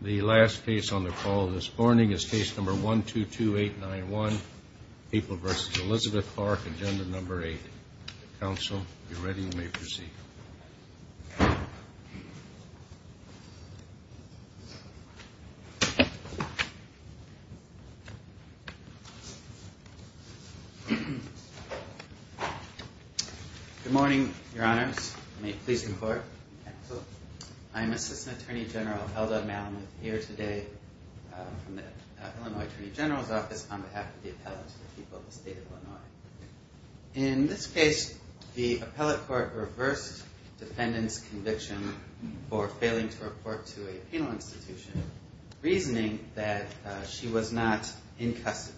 The last case on the call this morning is case number 122891, April v. Elizabeth Clark, Agenda No. 8. Counsel, if you're ready, you may proceed. Good morning, Your Honors. May it please the Court. I'm Assistant Attorney General Eldad Malamuth, here today from the Illinois Attorney General's Office on behalf of the appellants for the people of the State of Illinois. In this case, the appellate court reversed defendant's conviction for failing to report to a penal institution, reasoning that she was not in custody.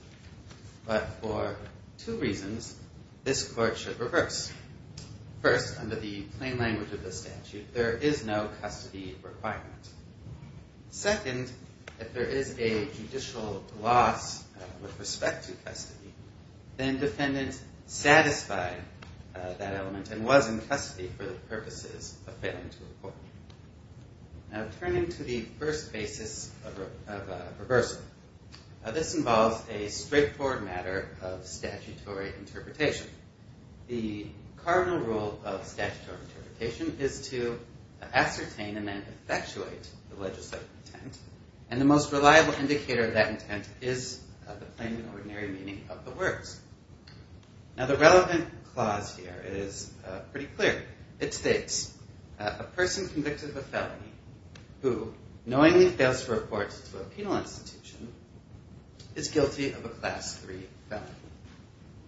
But for two reasons, this court should reverse. First, under the plain language of the statute, there is no custody requirement. Second, if there is a judicial loss with respect to custody, then defendant satisfied that element and was in custody for the purposes of failing to report. Turning to the first basis of reversal, this involves a straightforward matter of statutory interpretation. The cardinal rule of statutory interpretation is to ascertain and then effectuate the legislative intent, and the most reliable indicator of that intent is the plain and ordinary meaning of the words. Now, the relevant clause here is pretty clear. It states, a person convicted of a felony who knowingly fails to report to a penal institution is guilty of a Class III felony.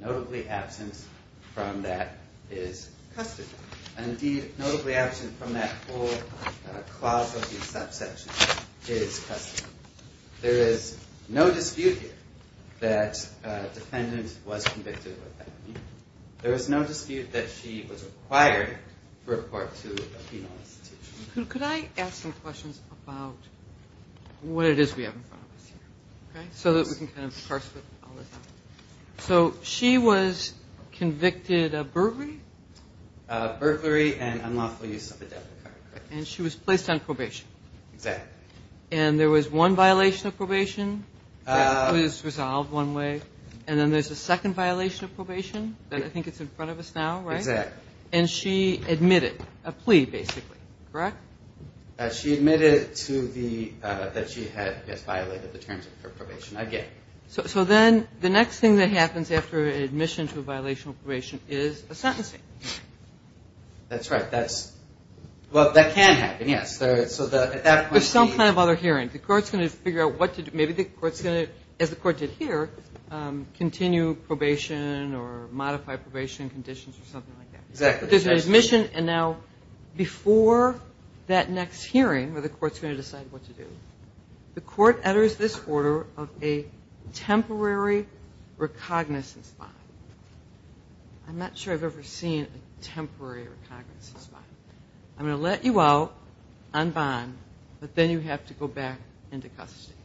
Notably absent from that is custody. Indeed, notably absent from that whole clause of the subsection is custody. There is no dispute here that a defendant was convicted of a felony. There is no dispute that she was required to report to a penal institution. Could I ask some questions about what it is we have in front of us here, okay, so that we can kind of parse it all out? So she was convicted of burglary? Burglary and unlawful use of a debit card. And she was placed on probation. Exactly. And there was one violation of probation that was resolved one way, and then there's a second violation of probation that I think is in front of us now, right? Exactly. And she admitted a plea, basically, correct? She admitted that she had violated the terms of her probation again. So then the next thing that happens after admission to a violation of probation is a sentencing. That's right. Well, that can happen, yes. There's some kind of other hearing. The court's going to figure out what to do. Maybe the court's going to, as the court did here, continue probation or modify probation conditions or something like that. Exactly. There's an admission, and now before that next hearing where the court's going to decide what to do, the court enters this order of a temporary recognizance bond. I'm not sure I've ever seen a temporary recognizance bond. I'm going to let you out on bond, but then you have to go back into custody.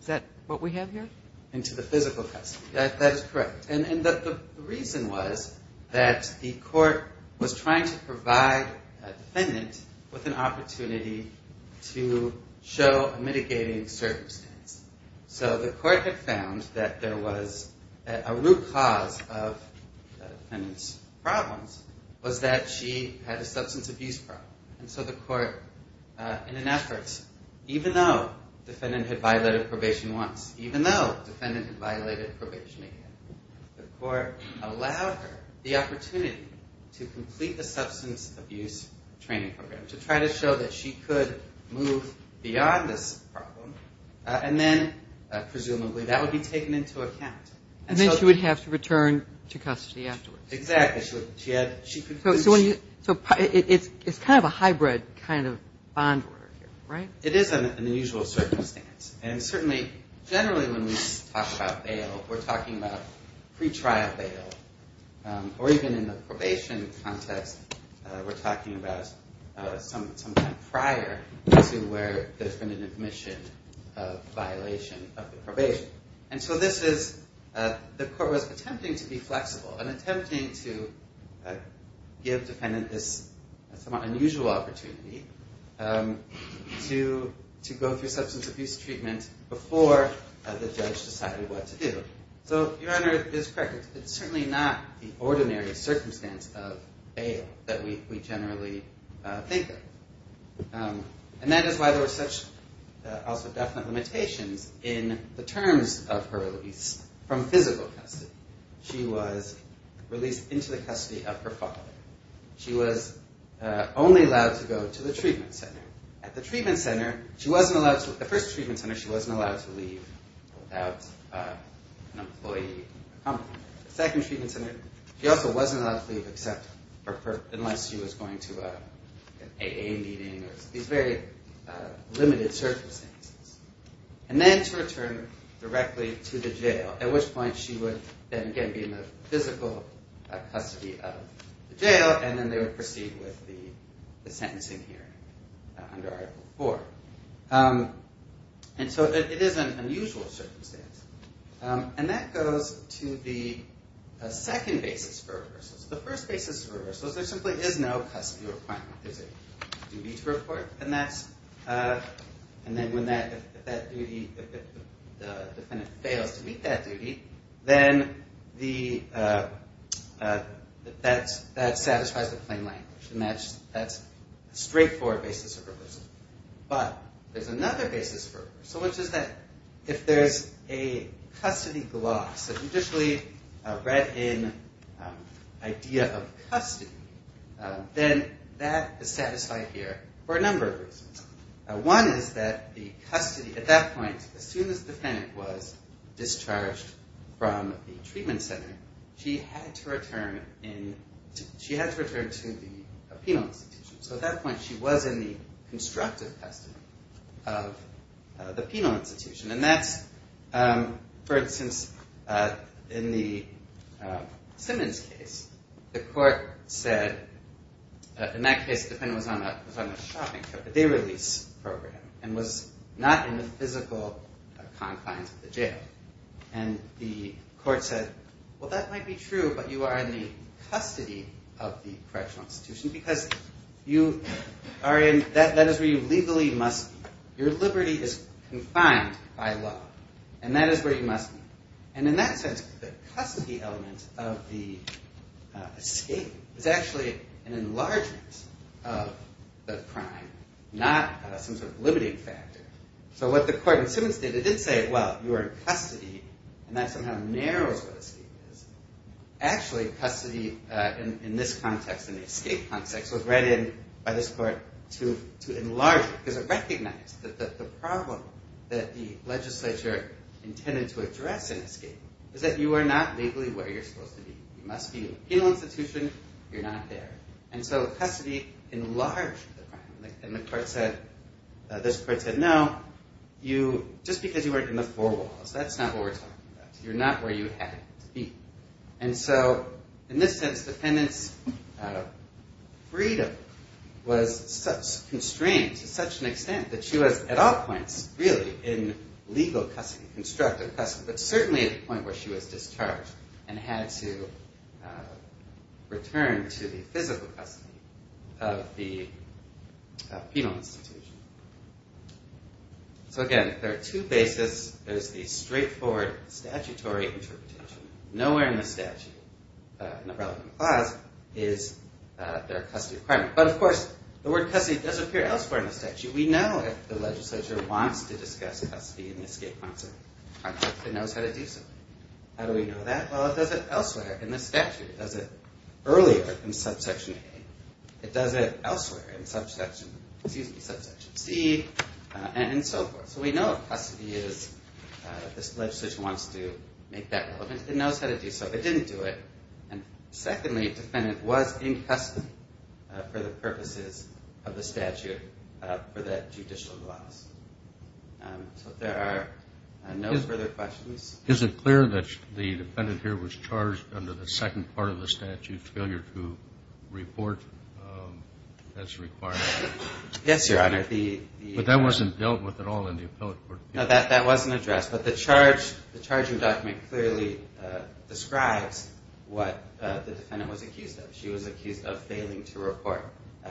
Is that what we have here? Into the physical custody. That is correct. And the reason was that the court was trying to provide a defendant with an opportunity to show a mitigating circumstance. So the court had found that there was a root cause of the defendant's problems was that she had a substance abuse problem. And so the court, in an effort, even though the defendant had violated probation once, even though the defendant had violated probation again, the court allowed her the opportunity to complete the substance abuse training program, to try to show that she could move beyond this problem. And then, presumably, that would be taken into account. And then she would have to return to custody afterwards. Exactly. So it's kind of a hybrid kind of bond order here, right? It is an unusual circumstance. And certainly, generally when we talk about bail, we're talking about pretrial bail. Or even in the probation context, we're talking about sometime prior to where there's been an admission of violation of the probation. And so this is, the court was attempting to be flexible and attempting to give the defendant this somewhat unusual opportunity to go through substance abuse treatment before the judge decided what to do. So, Your Honor, it is correct. It's certainly not the ordinary circumstance of bail that we generally think of. And that is why there were such also definite limitations in the terms of her release from physical custody. She was released into the custody of her father. She was only allowed to go to the treatment center. At the first treatment center, she wasn't allowed to leave without an employee accompanying her. At the second treatment center, she also wasn't allowed to leave unless she was going to an AA meeting or these very limited circumstances. And then to return directly to the jail, at which point she would then again be in the physical custody of the jail, and then they would proceed with the sentencing hearing under Article IV. And so it is an unusual circumstance. And that goes to the second basis for reversals. The first basis for reversals, there simply is no custody requirement. There's a duty to report. And then if the defendant fails to meet that duty, then that satisfies the plain language. And that's a straightforward basis for reversal. But there's another basis for reversal, which is that if there's a custody gloss, a judicially read-in idea of custody, then that is satisfied here for a number of reasons. One is that the custody at that point, as soon as the defendant was discharged from the treatment center, she had to return to the penal institution. So at that point, she was in the constructive custody of the penal institution. And that's, for instance, in the Simmons case, the court said, in that case, the defendant was on a shopping trip, a day-release program, and was not in the physical confines of the jail. And the court said, well, that might be true, but you are in the custody of the correctional institution because that is where you legally must be. Your liberty is confined by law, and that is where you must be. And in that sense, the custody element of the escape is actually an enlargement of the crime, not some sort of limiting factor. So what the court in Simmons did, it did say, well, you are in custody, and that somehow narrows what escape is. Actually, custody in this context, in the escape context, was read in by this court to enlarge it, because it recognized that the problem that the legislature intended to address in escape is that you are not legally where you're supposed to be. You must be in the penal institution. You're not there. And so custody enlarged the crime. And the court said, this court said, no, just because you weren't in the four walls, that's not what we're talking about. You're not where you had to be. And so in this sense, the defendant's freedom was constrained to such an extent that she was at all points, really, in legal custody, constructive custody, but certainly at the point where she was discharged and had to return to the physical custody of the penal institution. So again, there are two bases. There's the straightforward statutory interpretation. Nowhere in the statute, in the relevant clause, is there a custody requirement. But of course, the word custody does appear elsewhere in the statute. We know if the legislature wants to discuss custody in the escape concept. It knows how to do so. How do we know that? Well, it does it elsewhere in the statute. It does it earlier in subsection A. It does it elsewhere in subsection C, and so forth. So we know what custody is if this legislature wants to make that relevant. It knows how to do so. If it didn't do it. And secondly, the defendant was in custody for the purposes of the statute for that judicial clause. So if there are no further questions. Is it clear that the defendant here was charged under the second part of the statute, failure to report as required? Yes, Your Honor. But that wasn't dealt with at all in the appellate court. No, that wasn't addressed. But the charging document clearly describes what the defendant was accused of. She was accused of failing to report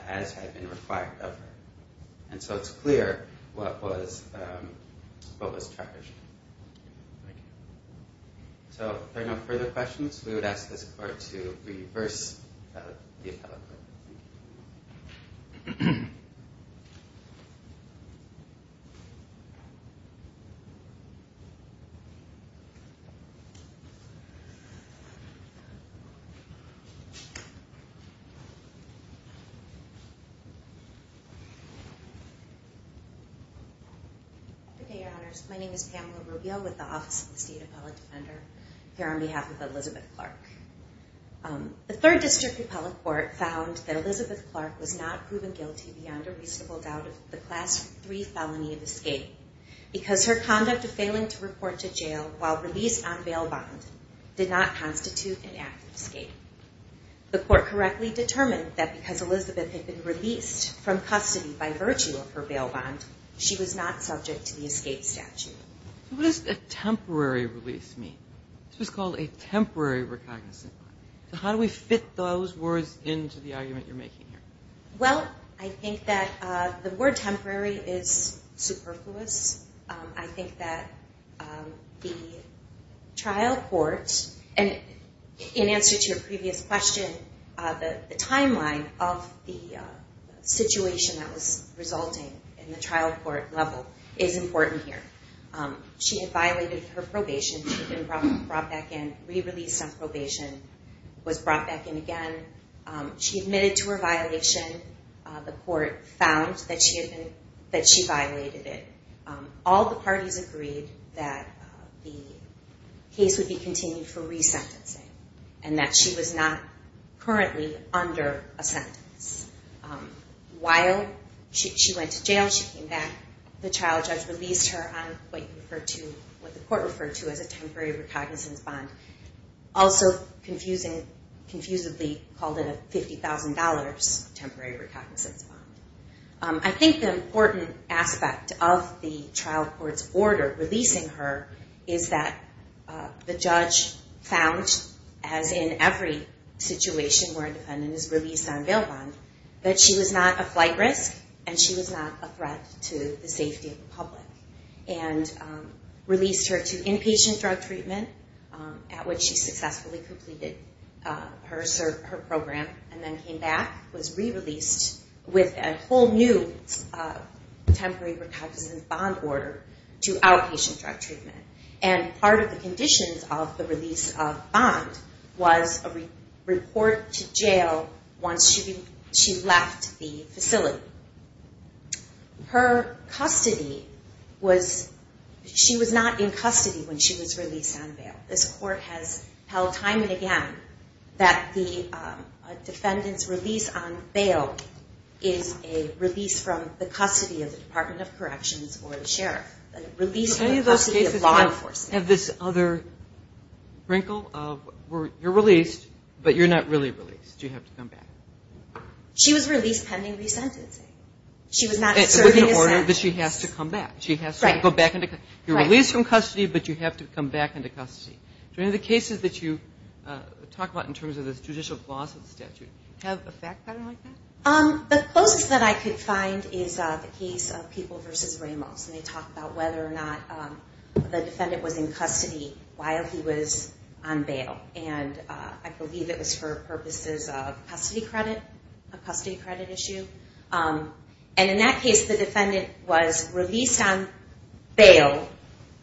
as had been required of her. And so it's clear what was charged. Thank you. So if there are no further questions, we would ask this court to reverse the appellate court. Okay, Your Honors. My name is Pamela Rubio with the Office of the State Appellate Defender here on behalf of Elizabeth Clark. The Third District Appellate Court found that Elizabeth Clark was not proven guilty beyond a reasonable doubt of the Class III felony of escape. Because her conduct of failing to report to jail while released on bail bond did not constitute an act of escape. The court correctly determined that because Elizabeth had been released from custody by virtue of her bail bond, she was not subject to the escape statute. What does a temporary release mean? This was called a temporary recognition. How do we fit those words into the argument you're making here? Well, I think that the word temporary is superfluous. I think that the trial court, and in answer to your previous question, the timeline of the situation that was resulting in the trial court level is important here. She had violated her probation. She had been brought back in, re-released on probation, was brought back in again. She admitted to her violation. The court found that she violated it. All the parties agreed that the case would be continued for re-sentencing and that she was not currently under a sentence. While she went to jail, she came back. The trial judge released her on what the court referred to as a temporary recognizance bond. Also, confusingly, called it a $50,000 temporary recognizance bond. I think the important aspect of the trial court's order releasing her is that the judge found, as in every situation where a defendant is released on bail bond, that she was not a flight risk and she was not a threat to the safety of the public, and released her to inpatient drug treatment at which she successfully completed her program and then came back, was re-released with a whole new temporary recognizance bond order to outpatient drug treatment. Part of the conditions of the release of bond was a report to jail once she left the facility. Her custody was, she was not in custody when she was released on bail. This court has held time and again that the defendant's release on bail is a release from the custody of the Department of Corrections or the sheriff. A release from the custody of law enforcement. Do any of those cases have this other wrinkle of you're released, but you're not really released? Do you have to come back? She was released pending re-sentencing. She was not serving a sentence. It was an order that she has to come back. She has to go back into custody. You're released from custody, but you have to come back into custody. Do any of the cases that you talk about in terms of the judicial clause of the statute have a fact pattern like that? The closest that I could find is the case of People v. Ramos, and they talk about whether or not the defendant was in custody while he was on bail. And I believe it was for purposes of custody credit, a custody credit issue. And in that case, the defendant was released on bail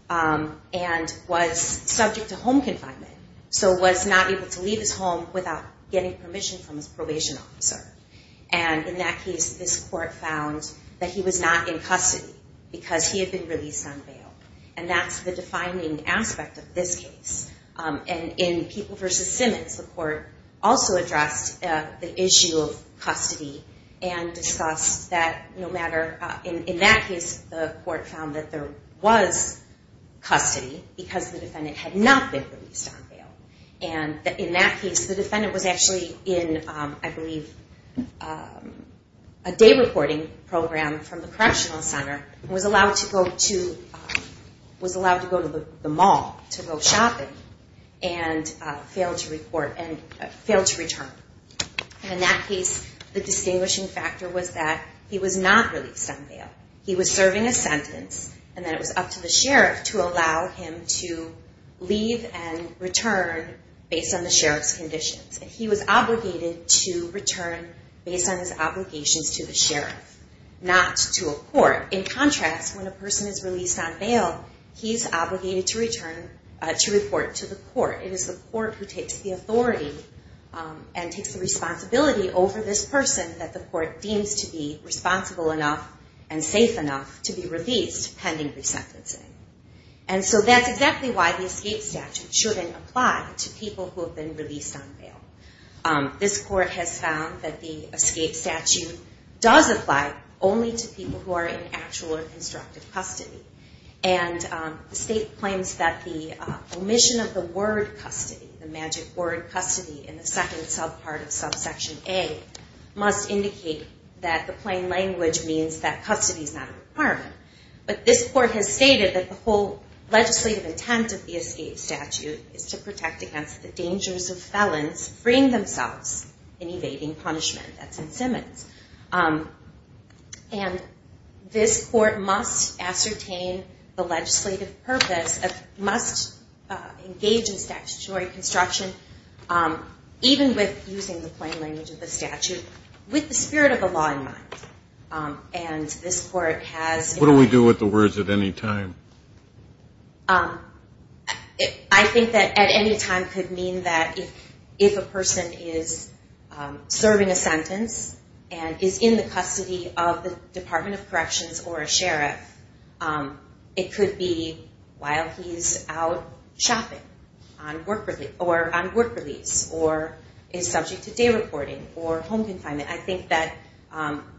and was subject to home confinement, so was not able to leave his home without getting permission from his probation officer. And in that case, this court found that he was not in custody because he had been released on bail. And that's the defining aspect of this case. And in People v. Simmons, the court also addressed the issue of custody and discussed that no matter – in that case, the court found that there was custody because the defendant had not been released on bail. And in that case, the defendant was actually in, I believe, a day reporting program from the correctional center and was allowed to go to the mall to go shopping and failed to return. And in that case, the distinguishing factor was that he was not released on bail. He was serving a sentence, and then it was up to the sheriff to allow him to leave and return based on the sheriff's conditions. He was obligated to return based on his obligations to the sheriff, not to a court. In contrast, when a person is released on bail, he's obligated to return to report to the court. It is the court who takes the authority and takes the responsibility over this person that the court deems to be responsible enough and safe enough to be released pending resentencing. And so that's exactly why the escape statute shouldn't apply to people who have been released on bail. This court has found that the escape statute does apply only to people who are in actual or constructive custody. And the state claims that the omission of the word custody, the magic word custody, in the second subpart of subsection A, must indicate that the plain language means that custody is not a requirement. But this court has stated that the whole legislative intent of the escape statute is to protect against the dangers of felons freeing themselves in evading punishment. That's in Simmons. And this court must ascertain the legislative purpose, must engage in statutory construction, even with using the plain language of the statute, with the spirit of the law in mind. What do we do with the words at any time? I think that at any time could mean that if a person is serving a sentence and is in the custody of the Department of Corrections or a sheriff, it could be while he's out shopping or on work release or is subject to day reporting or home confinement. I think that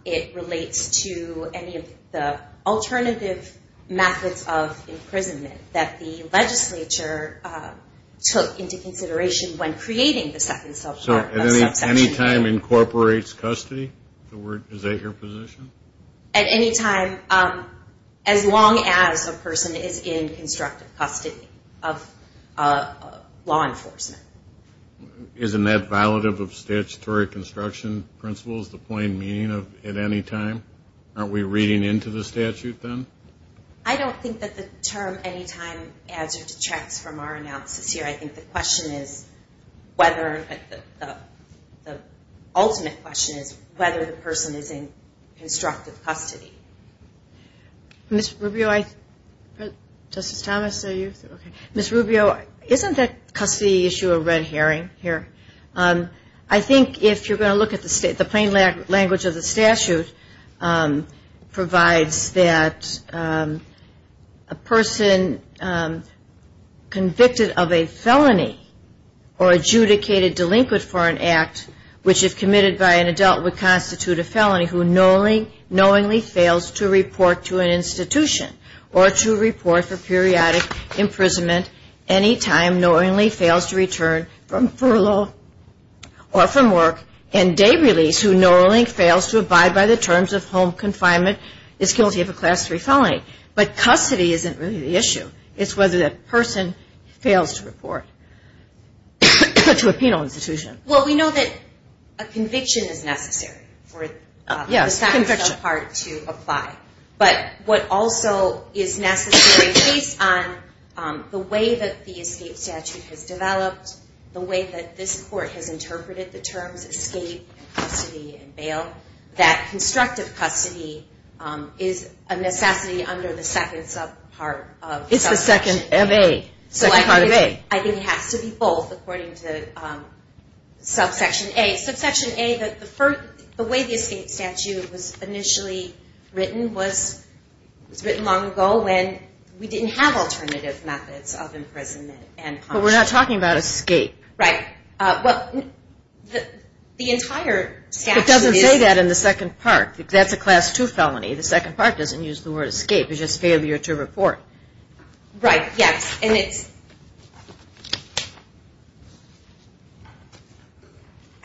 it relates to any of the alternative methods of imprisonment that the legislature took into consideration when creating the second subsection. So at any time incorporates custody? Is that your position? At any time, as long as a person is in constructive custody of law enforcement. Isn't that violative of statutory construction principles, the plain meaning of at any time? Aren't we reading into the statute then? I don't think that the term any time adds or detracts from our analysis here. I think the question is whether, the ultimate question is whether the person is in constructive custody. Ms. Rubio, I, Justice Thomas, are you? Ms. Rubio, isn't that custody issue a red herring here? I think if you're going to look at the plain language of the statute provides that a person convicted of a felony or adjudicated delinquent for an act which if committed by an adult would constitute a felony who knowingly fails to report to an institution or to report for periodic imprisonment any time knowingly fails to return from furlough or from work and day release who knowingly fails to abide by the terms of home confinement is guilty of a Class 3 felony. But custody isn't really the issue. It's whether that person fails to report to a penal institution. Well, we know that a conviction is necessary for the second subpart to apply. But what also is necessary based on the way that the escape statute has developed, the way that this court has interpreted the terms escape, custody, and bail, that constructive custody is a necessity under the second subpart. It's the second MA. Second part of A. I think it has to be both according to subsection A. Subsection A, the way the escape statute was initially written was written long ago when we didn't have alternative methods of imprisonment. But we're not talking about escape. Right. Well, the entire statute is- It doesn't say that in the second part. That's a Class 2 felony. The second part doesn't use the word escape. It's just failure to report. Right. Yes. And it's-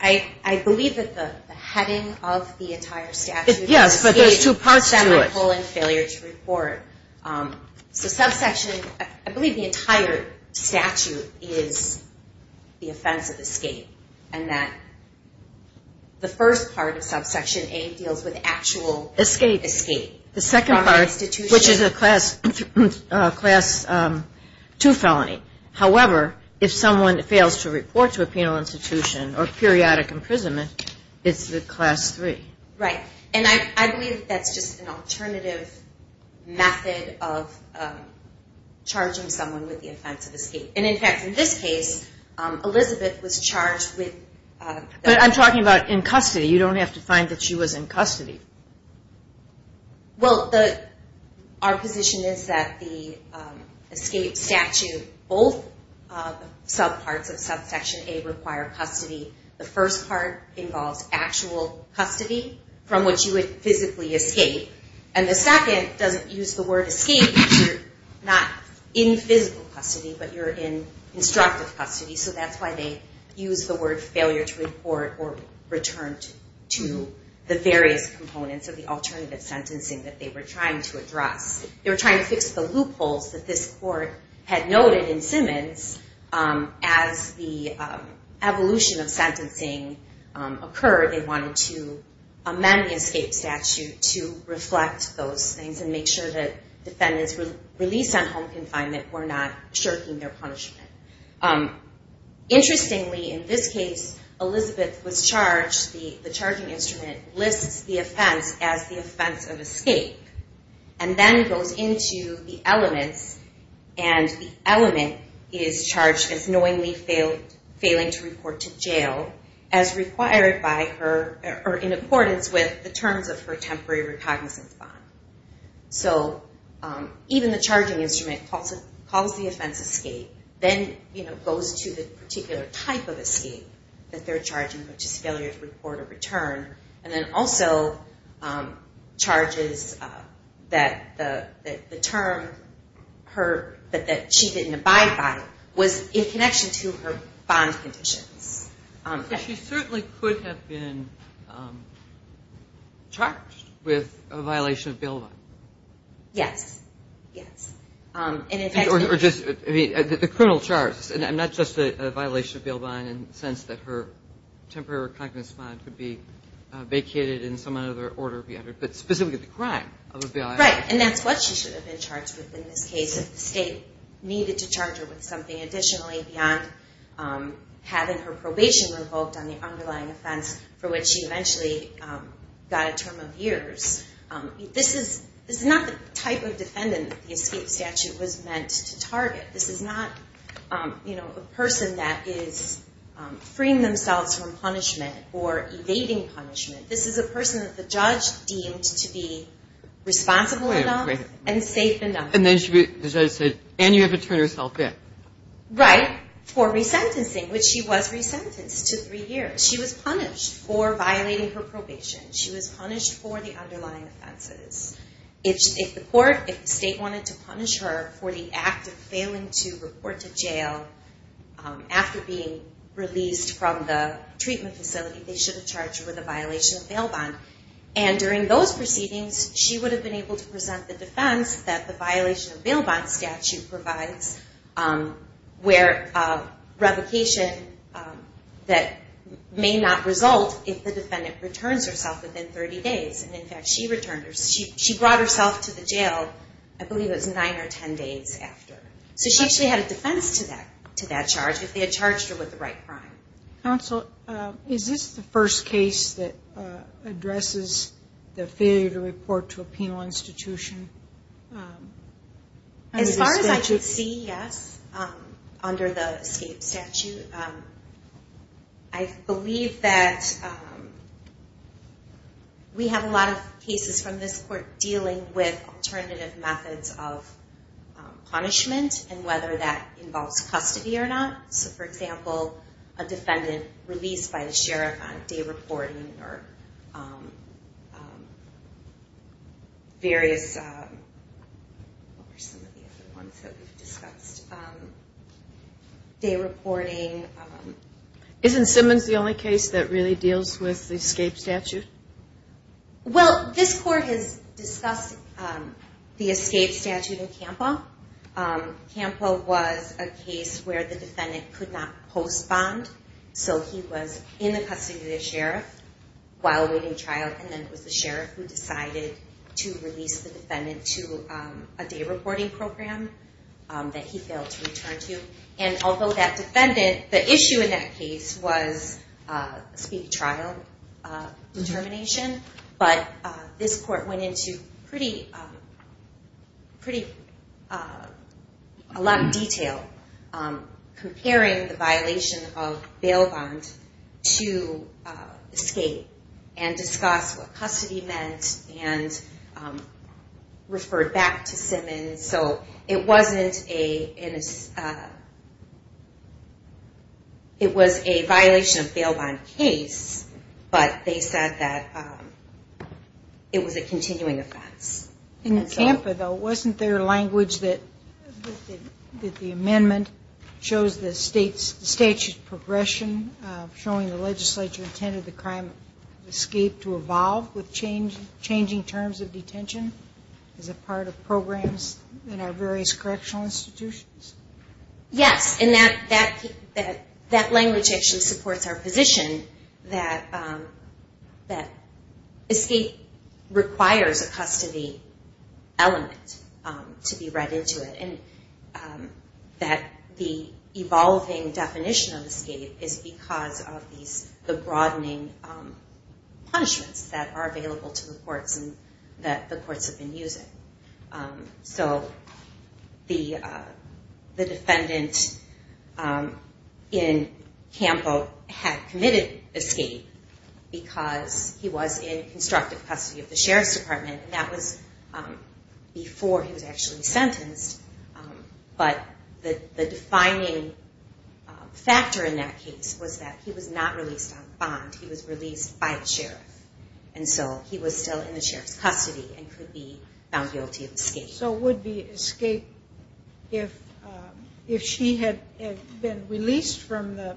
I believe that the heading of the entire statute is escape- Yes, but there's two parts to it. Semicolon failure to report. So subsection- I believe the entire statute is the offense of escape, and that the first part of subsection A deals with actual escape- Escape. The second part, which is a Class 2 felony. However, if someone fails to report to a penal institution or periodic imprisonment, it's the Class 3. Right. And I believe that's just an alternative method of charging someone with the offense of escape. And, in fact, in this case, Elizabeth was charged with- But I'm talking about in custody. You don't have to find that she was in custody. Well, our position is that the escape statute, both subparts of subsection A require custody. The first part involves actual custody from which you would physically escape. And the second doesn't use the word escape. You're not in physical custody, but you're in instructive custody. So that's why they use the word failure to report or return to the various components of the alternative sentencing that they were trying to address. They were trying to fix the loopholes that this court had noted in Simmons. As the evolution of sentencing occurred, they wanted to amend the escape statute to reflect those things and make sure that defendants released on home confinement were not shirking their punishment. Interestingly, in this case, Elizabeth was charged. The charging instrument lists the offense as the offense of escape and then goes into the elements. And the element is charged as knowingly failing to report to jail as required by her- or in accordance with the terms of her temporary recognizance bond. So even the charging instrument calls the offense escape. Then, you know, goes to the particular type of escape that they're charging, which is failure to report or return. And then also charges that the term that she didn't abide by was in connection to her bond conditions. She certainly could have been charged with a violation of bail bond. Yes, yes. Or just the criminal charges, and not just a violation of bail bond in the sense that her temporary recognizance bond could be vacated and some other order be entered, but specifically the crime of a bail bond. Right. And that's what she should have been charged with in this case if the state needed to charge her with something additionally beyond having her probation revoked on the underlying offense for which she eventually got a term of years. This is not the type of defendant the escape statute was meant to target. This is not, you know, a person that is freeing themselves from punishment or evading punishment. This is a person that the judge deemed to be responsible enough and safe enough. And you have to turn yourself in. Right. For resentencing, which she was resentenced to three years. She was punished for violating her probation. She was punished for the underlying offenses. If the court, if the state wanted to punish her for the act of failing to report to jail after being released from the treatment facility, they should have charged her with a violation of bail bond. And during those proceedings, she would have been able to present the defense that the violation of bail bond statute provides, where revocation that may not result if the defendant returns herself within 30 days. And, in fact, she returned. She brought herself to the jail, I believe it was nine or ten days after. So she actually had a defense to that charge if they had charged her with the right crime. Counsel, is this the first case that addresses the failure to report to a penal institution? As far as I can see, yes, under the escape statute. I believe that we have a lot of cases from this court dealing with alternative methods of punishment and whether that involves custody or not. So, for example, a defendant released by the sheriff on day reporting or various, what were some of the other ones that we've discussed? Day reporting. Isn't Simmons the only case that really deals with the escape statute? Well, this court has discussed the escape statute in CAMPA. CAMPA was a case where the defendant could not post bond, so he was in the custody of the sheriff while awaiting trial, and then it was the sheriff who decided to release the defendant to a day reporting program that he failed to return to. And although that defendant, the issue in that case was speed trial determination, but this court went into a lot of detail comparing the violation of bail bond to escape and discussed what custody meant and referred back to Simmons. And so it was a violation of bail bond case, but they said that it was a continuing offense. In CAMPA, though, wasn't there language that the amendment shows the statute progression, showing the legislature intended the crime of escape to evolve with changing terms of detention as a part of programs in our various correctional institutions? Yes, and that language actually supports our position that escape requires a custody element to be read into it and that the evolving definition of escape is because of the broadening punishments that are available to the courts and that the courts have been using. So the defendant in CAMPA had committed escape because he was in constructive custody of the sheriff's department, and that was before he was actually sentenced. But the defining factor in that case was that he was not released on bond. He was released by a sheriff. And so he was still in the sheriff's custody and could be found guilty of escape. So would the escape, if she had been released from the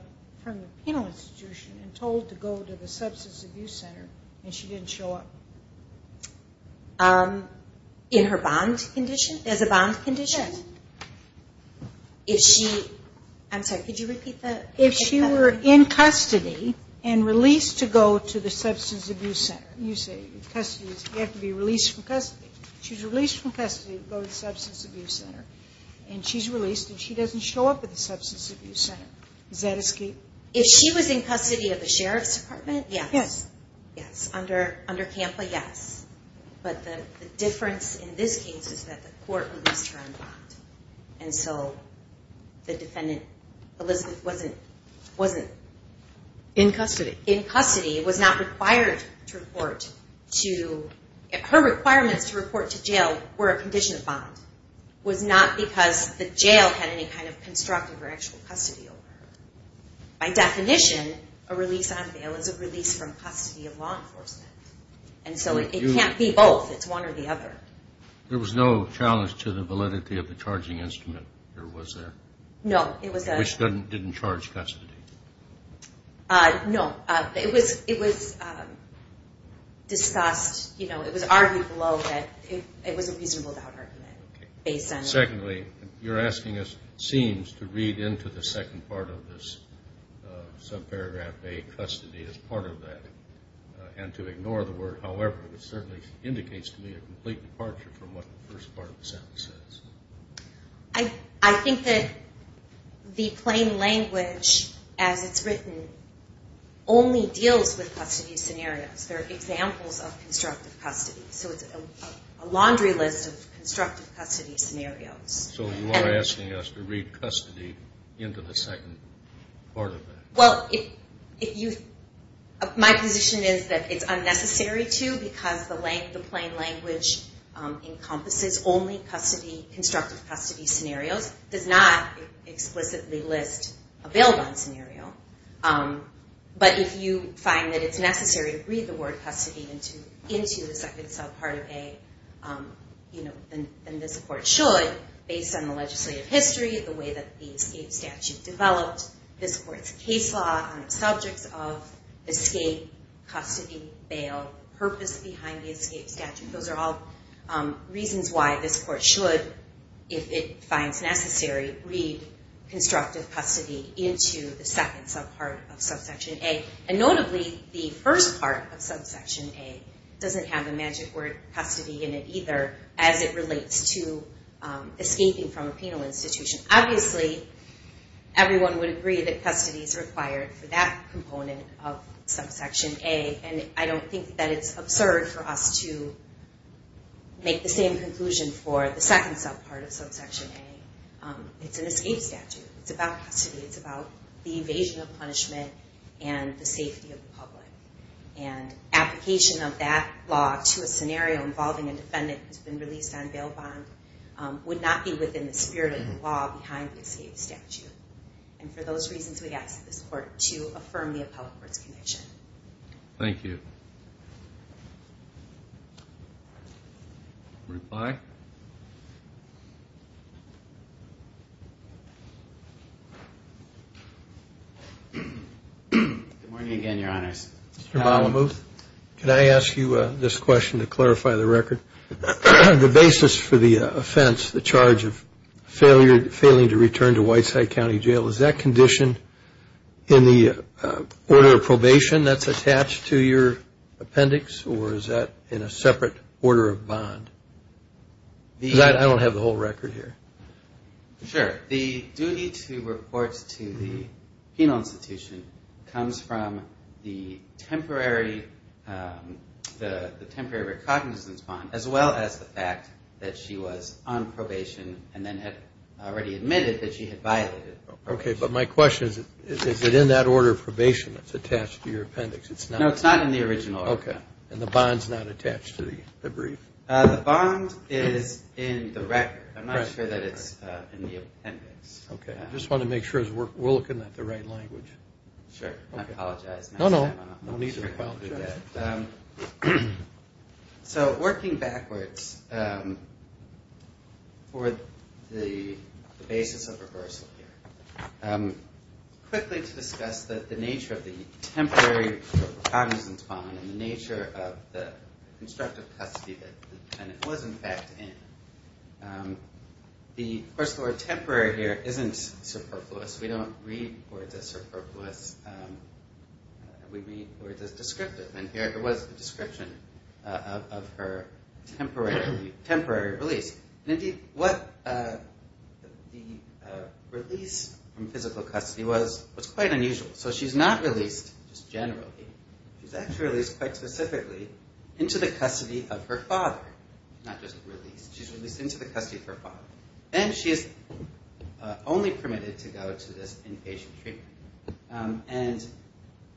penal institution and told to go to the substance abuse center and she didn't show up? In her bond condition? As a bond condition? Yes. I'm sorry, could you repeat that? If she were in custody and released to go to the substance abuse center. You say custody, you have to be released from custody. She's released from custody to go to the substance abuse center, and she's released and she doesn't show up at the substance abuse center. Is that escape? If she was in custody of the sheriff's department, yes. Yes. Under CAMPA, yes. But the difference in this case is that the court released her on bond. And so the defendant, Elizabeth, wasn't... In custody. In custody, was not required to report to... Her requirements to report to jail were a condition of bond. It was not because the jail had any kind of constructive or actual custody over her. By definition, a release on bail is a release from custody of law enforcement. And so it can't be both, it's one or the other. There was no challenge to the validity of the charging instrument, or was there? No, it was a... Which didn't charge custody. No, it was discussed, you know, it was argued below that it was a reasonable doubt argument. Secondly, you're asking us, it seems, to read into the second part of this subparagraph, a custody as part of that, and to ignore the word however. It certainly indicates to me a complete departure from what the first part of the sentence says. I think that the plain language, as it's written, only deals with custody scenarios. There are examples of constructive custody. So it's a laundry list of constructive custody scenarios. So you are asking us to read custody into the second part of that. Well, if you... My position is that it's unnecessary to because the plain language encompasses only custody, constructive custody scenarios, does not explicitly list a bail bond scenario. But if you find that it's necessary to read the word custody into the second subpart of A, then this court should, based on the legislative history, the way that the escape statute developed, this court's case law on the subjects of escape, custody, bail, purpose behind the escape statute. Those are all reasons why this court should, if it finds necessary, read constructive custody into the second subpart of subsection A. And notably, the first part of subsection A doesn't have the magic word custody in it either as it relates to escaping from a penal institution. Obviously, everyone would agree that custody is required for that component of subsection A, and I don't think that it's absurd for us to make the same conclusion for the second subpart of subsection A It's an escape statute. It's about custody. It's about the evasion of punishment and the safety of the public. And application of that law to a scenario involving a defendant who's been released on bail bond would not be within the spirit of the law behind the escape statute. And for those reasons, we ask this court to affirm the appellate court's condition. Thank you. Reply. Good morning again, Your Honors. Mr. Malamuth, can I ask you this question to clarify the record? The basis for the offense, the charge of failing to return to Whiteside County Jail, is that condition in the order of probation that's attached to your appendix, or is that in a separate order of bond? Because I don't have the whole record here. Sure. The duty to report to the penal institution comes from the temporary recognizance bond, as well as the fact that she was on probation and then had already admitted that she had violated probation. Okay, but my question is, is it in that order of probation that's attached to your appendix? No, it's not in the original order. Okay. And the bond's not attached to the brief? The bond is in the record. I'm not sure that it's in the appendix. Okay. I just want to make sure we're looking at the right language. Sure. I apologize. No, no. No need to apologize. So working backwards for the basis of reversal here, quickly to discuss the nature of the temporary recognizance bond and the nature of the constructive custody that the tenant was, in fact, in. First of all, temporary here isn't superfluous. We don't read words as superfluous. We read words as descriptive, and here it was a description of her temporary release. And indeed, what the release from physical custody was was quite unusual. So she's not released just generally. She's actually released quite specifically into the custody of her father, not just released. She's released into the custody of her father. Then she is only permitted to go to this inpatient treatment. And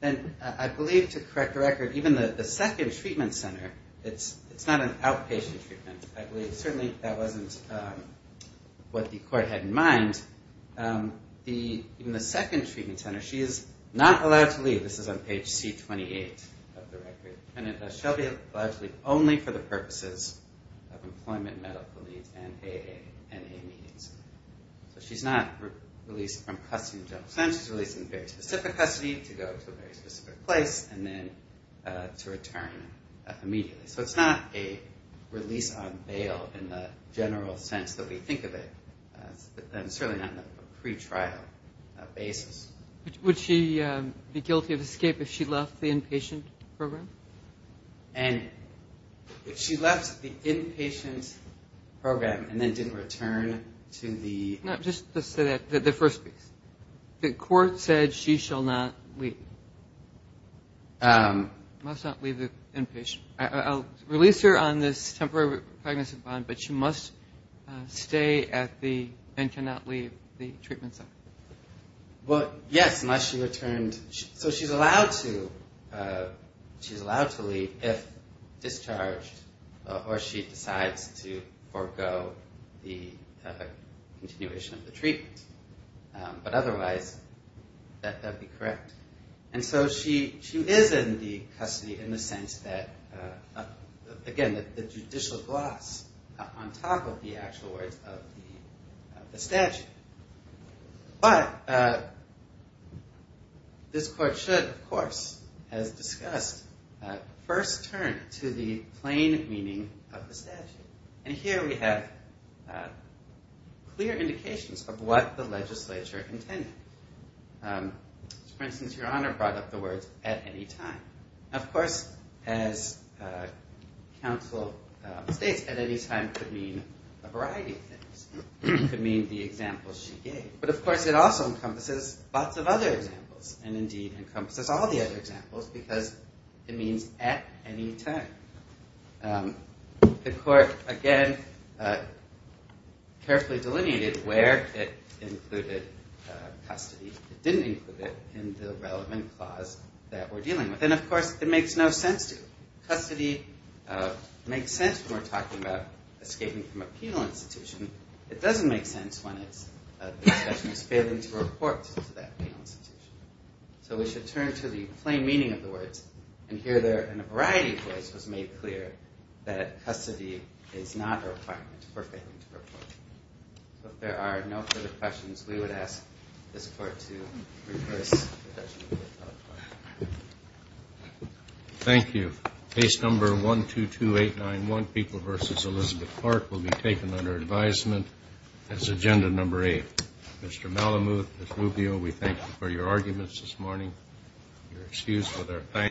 then I believe, to correct the record, even the second treatment center, it's not an outpatient treatment. Certainly that wasn't what the court had in mind. In the second treatment center, she is not allowed to leave. This is on page C28 of the record. She'll be allowed to leave only for the purposes of employment, medical needs, and AA, NA needs. So she's not released from custody until essentially she's released into very specific custody, to go to a very specific place, and then to return immediately. So it's not a release on bail in the general sense that we think of it, and certainly not on a pretrial basis. Would she be guilty of escape if she left the inpatient program? And if she left the inpatient program and then didn't return to the ‑‑ No, just to say that, the first piece. The court said she shall not leave. Must not leave the inpatient. I'll release her on this temporary pregnancy bond, but she must stay at the and cannot leave the treatment center. Well, yes, unless she returned. So she's allowed to leave if discharged, or she decides to forego the continuation of the treatment. But otherwise, that would be correct. And so she is in the custody in the sense that, again, the judicial gloss on top of the actual words of the statute. But this court should, of course, as discussed, first turn to the plain meaning of the statute. And here we have clear indications of what the legislature intended. For instance, Your Honor brought up the words, at any time. Of course, as counsel states, at any time could mean a variety of things. It could mean the examples she gave. But, of course, it also encompasses lots of other examples and, indeed, encompasses all the other examples because it means at any time. The court, again, carefully delineated where it included custody. It didn't include it in the relevant clause that we're dealing with. Then, of course, it makes no sense to you. Custody makes sense when we're talking about escaping from a penal institution. It doesn't make sense when the person is failing to report to that penal institution. So we should turn to the plain meaning of the words. And here, in a variety of ways, it was made clear that custody is not a requirement for failing to report. If there are no further questions, we would ask this court to reverse. Thank you. Case number 122891, People v. Elizabeth Clark, will be taken under advisement as agenda number eight. Mr. Malamud, Ms. Rubio, we thank you for your arguments this morning. You're excused with our thanks.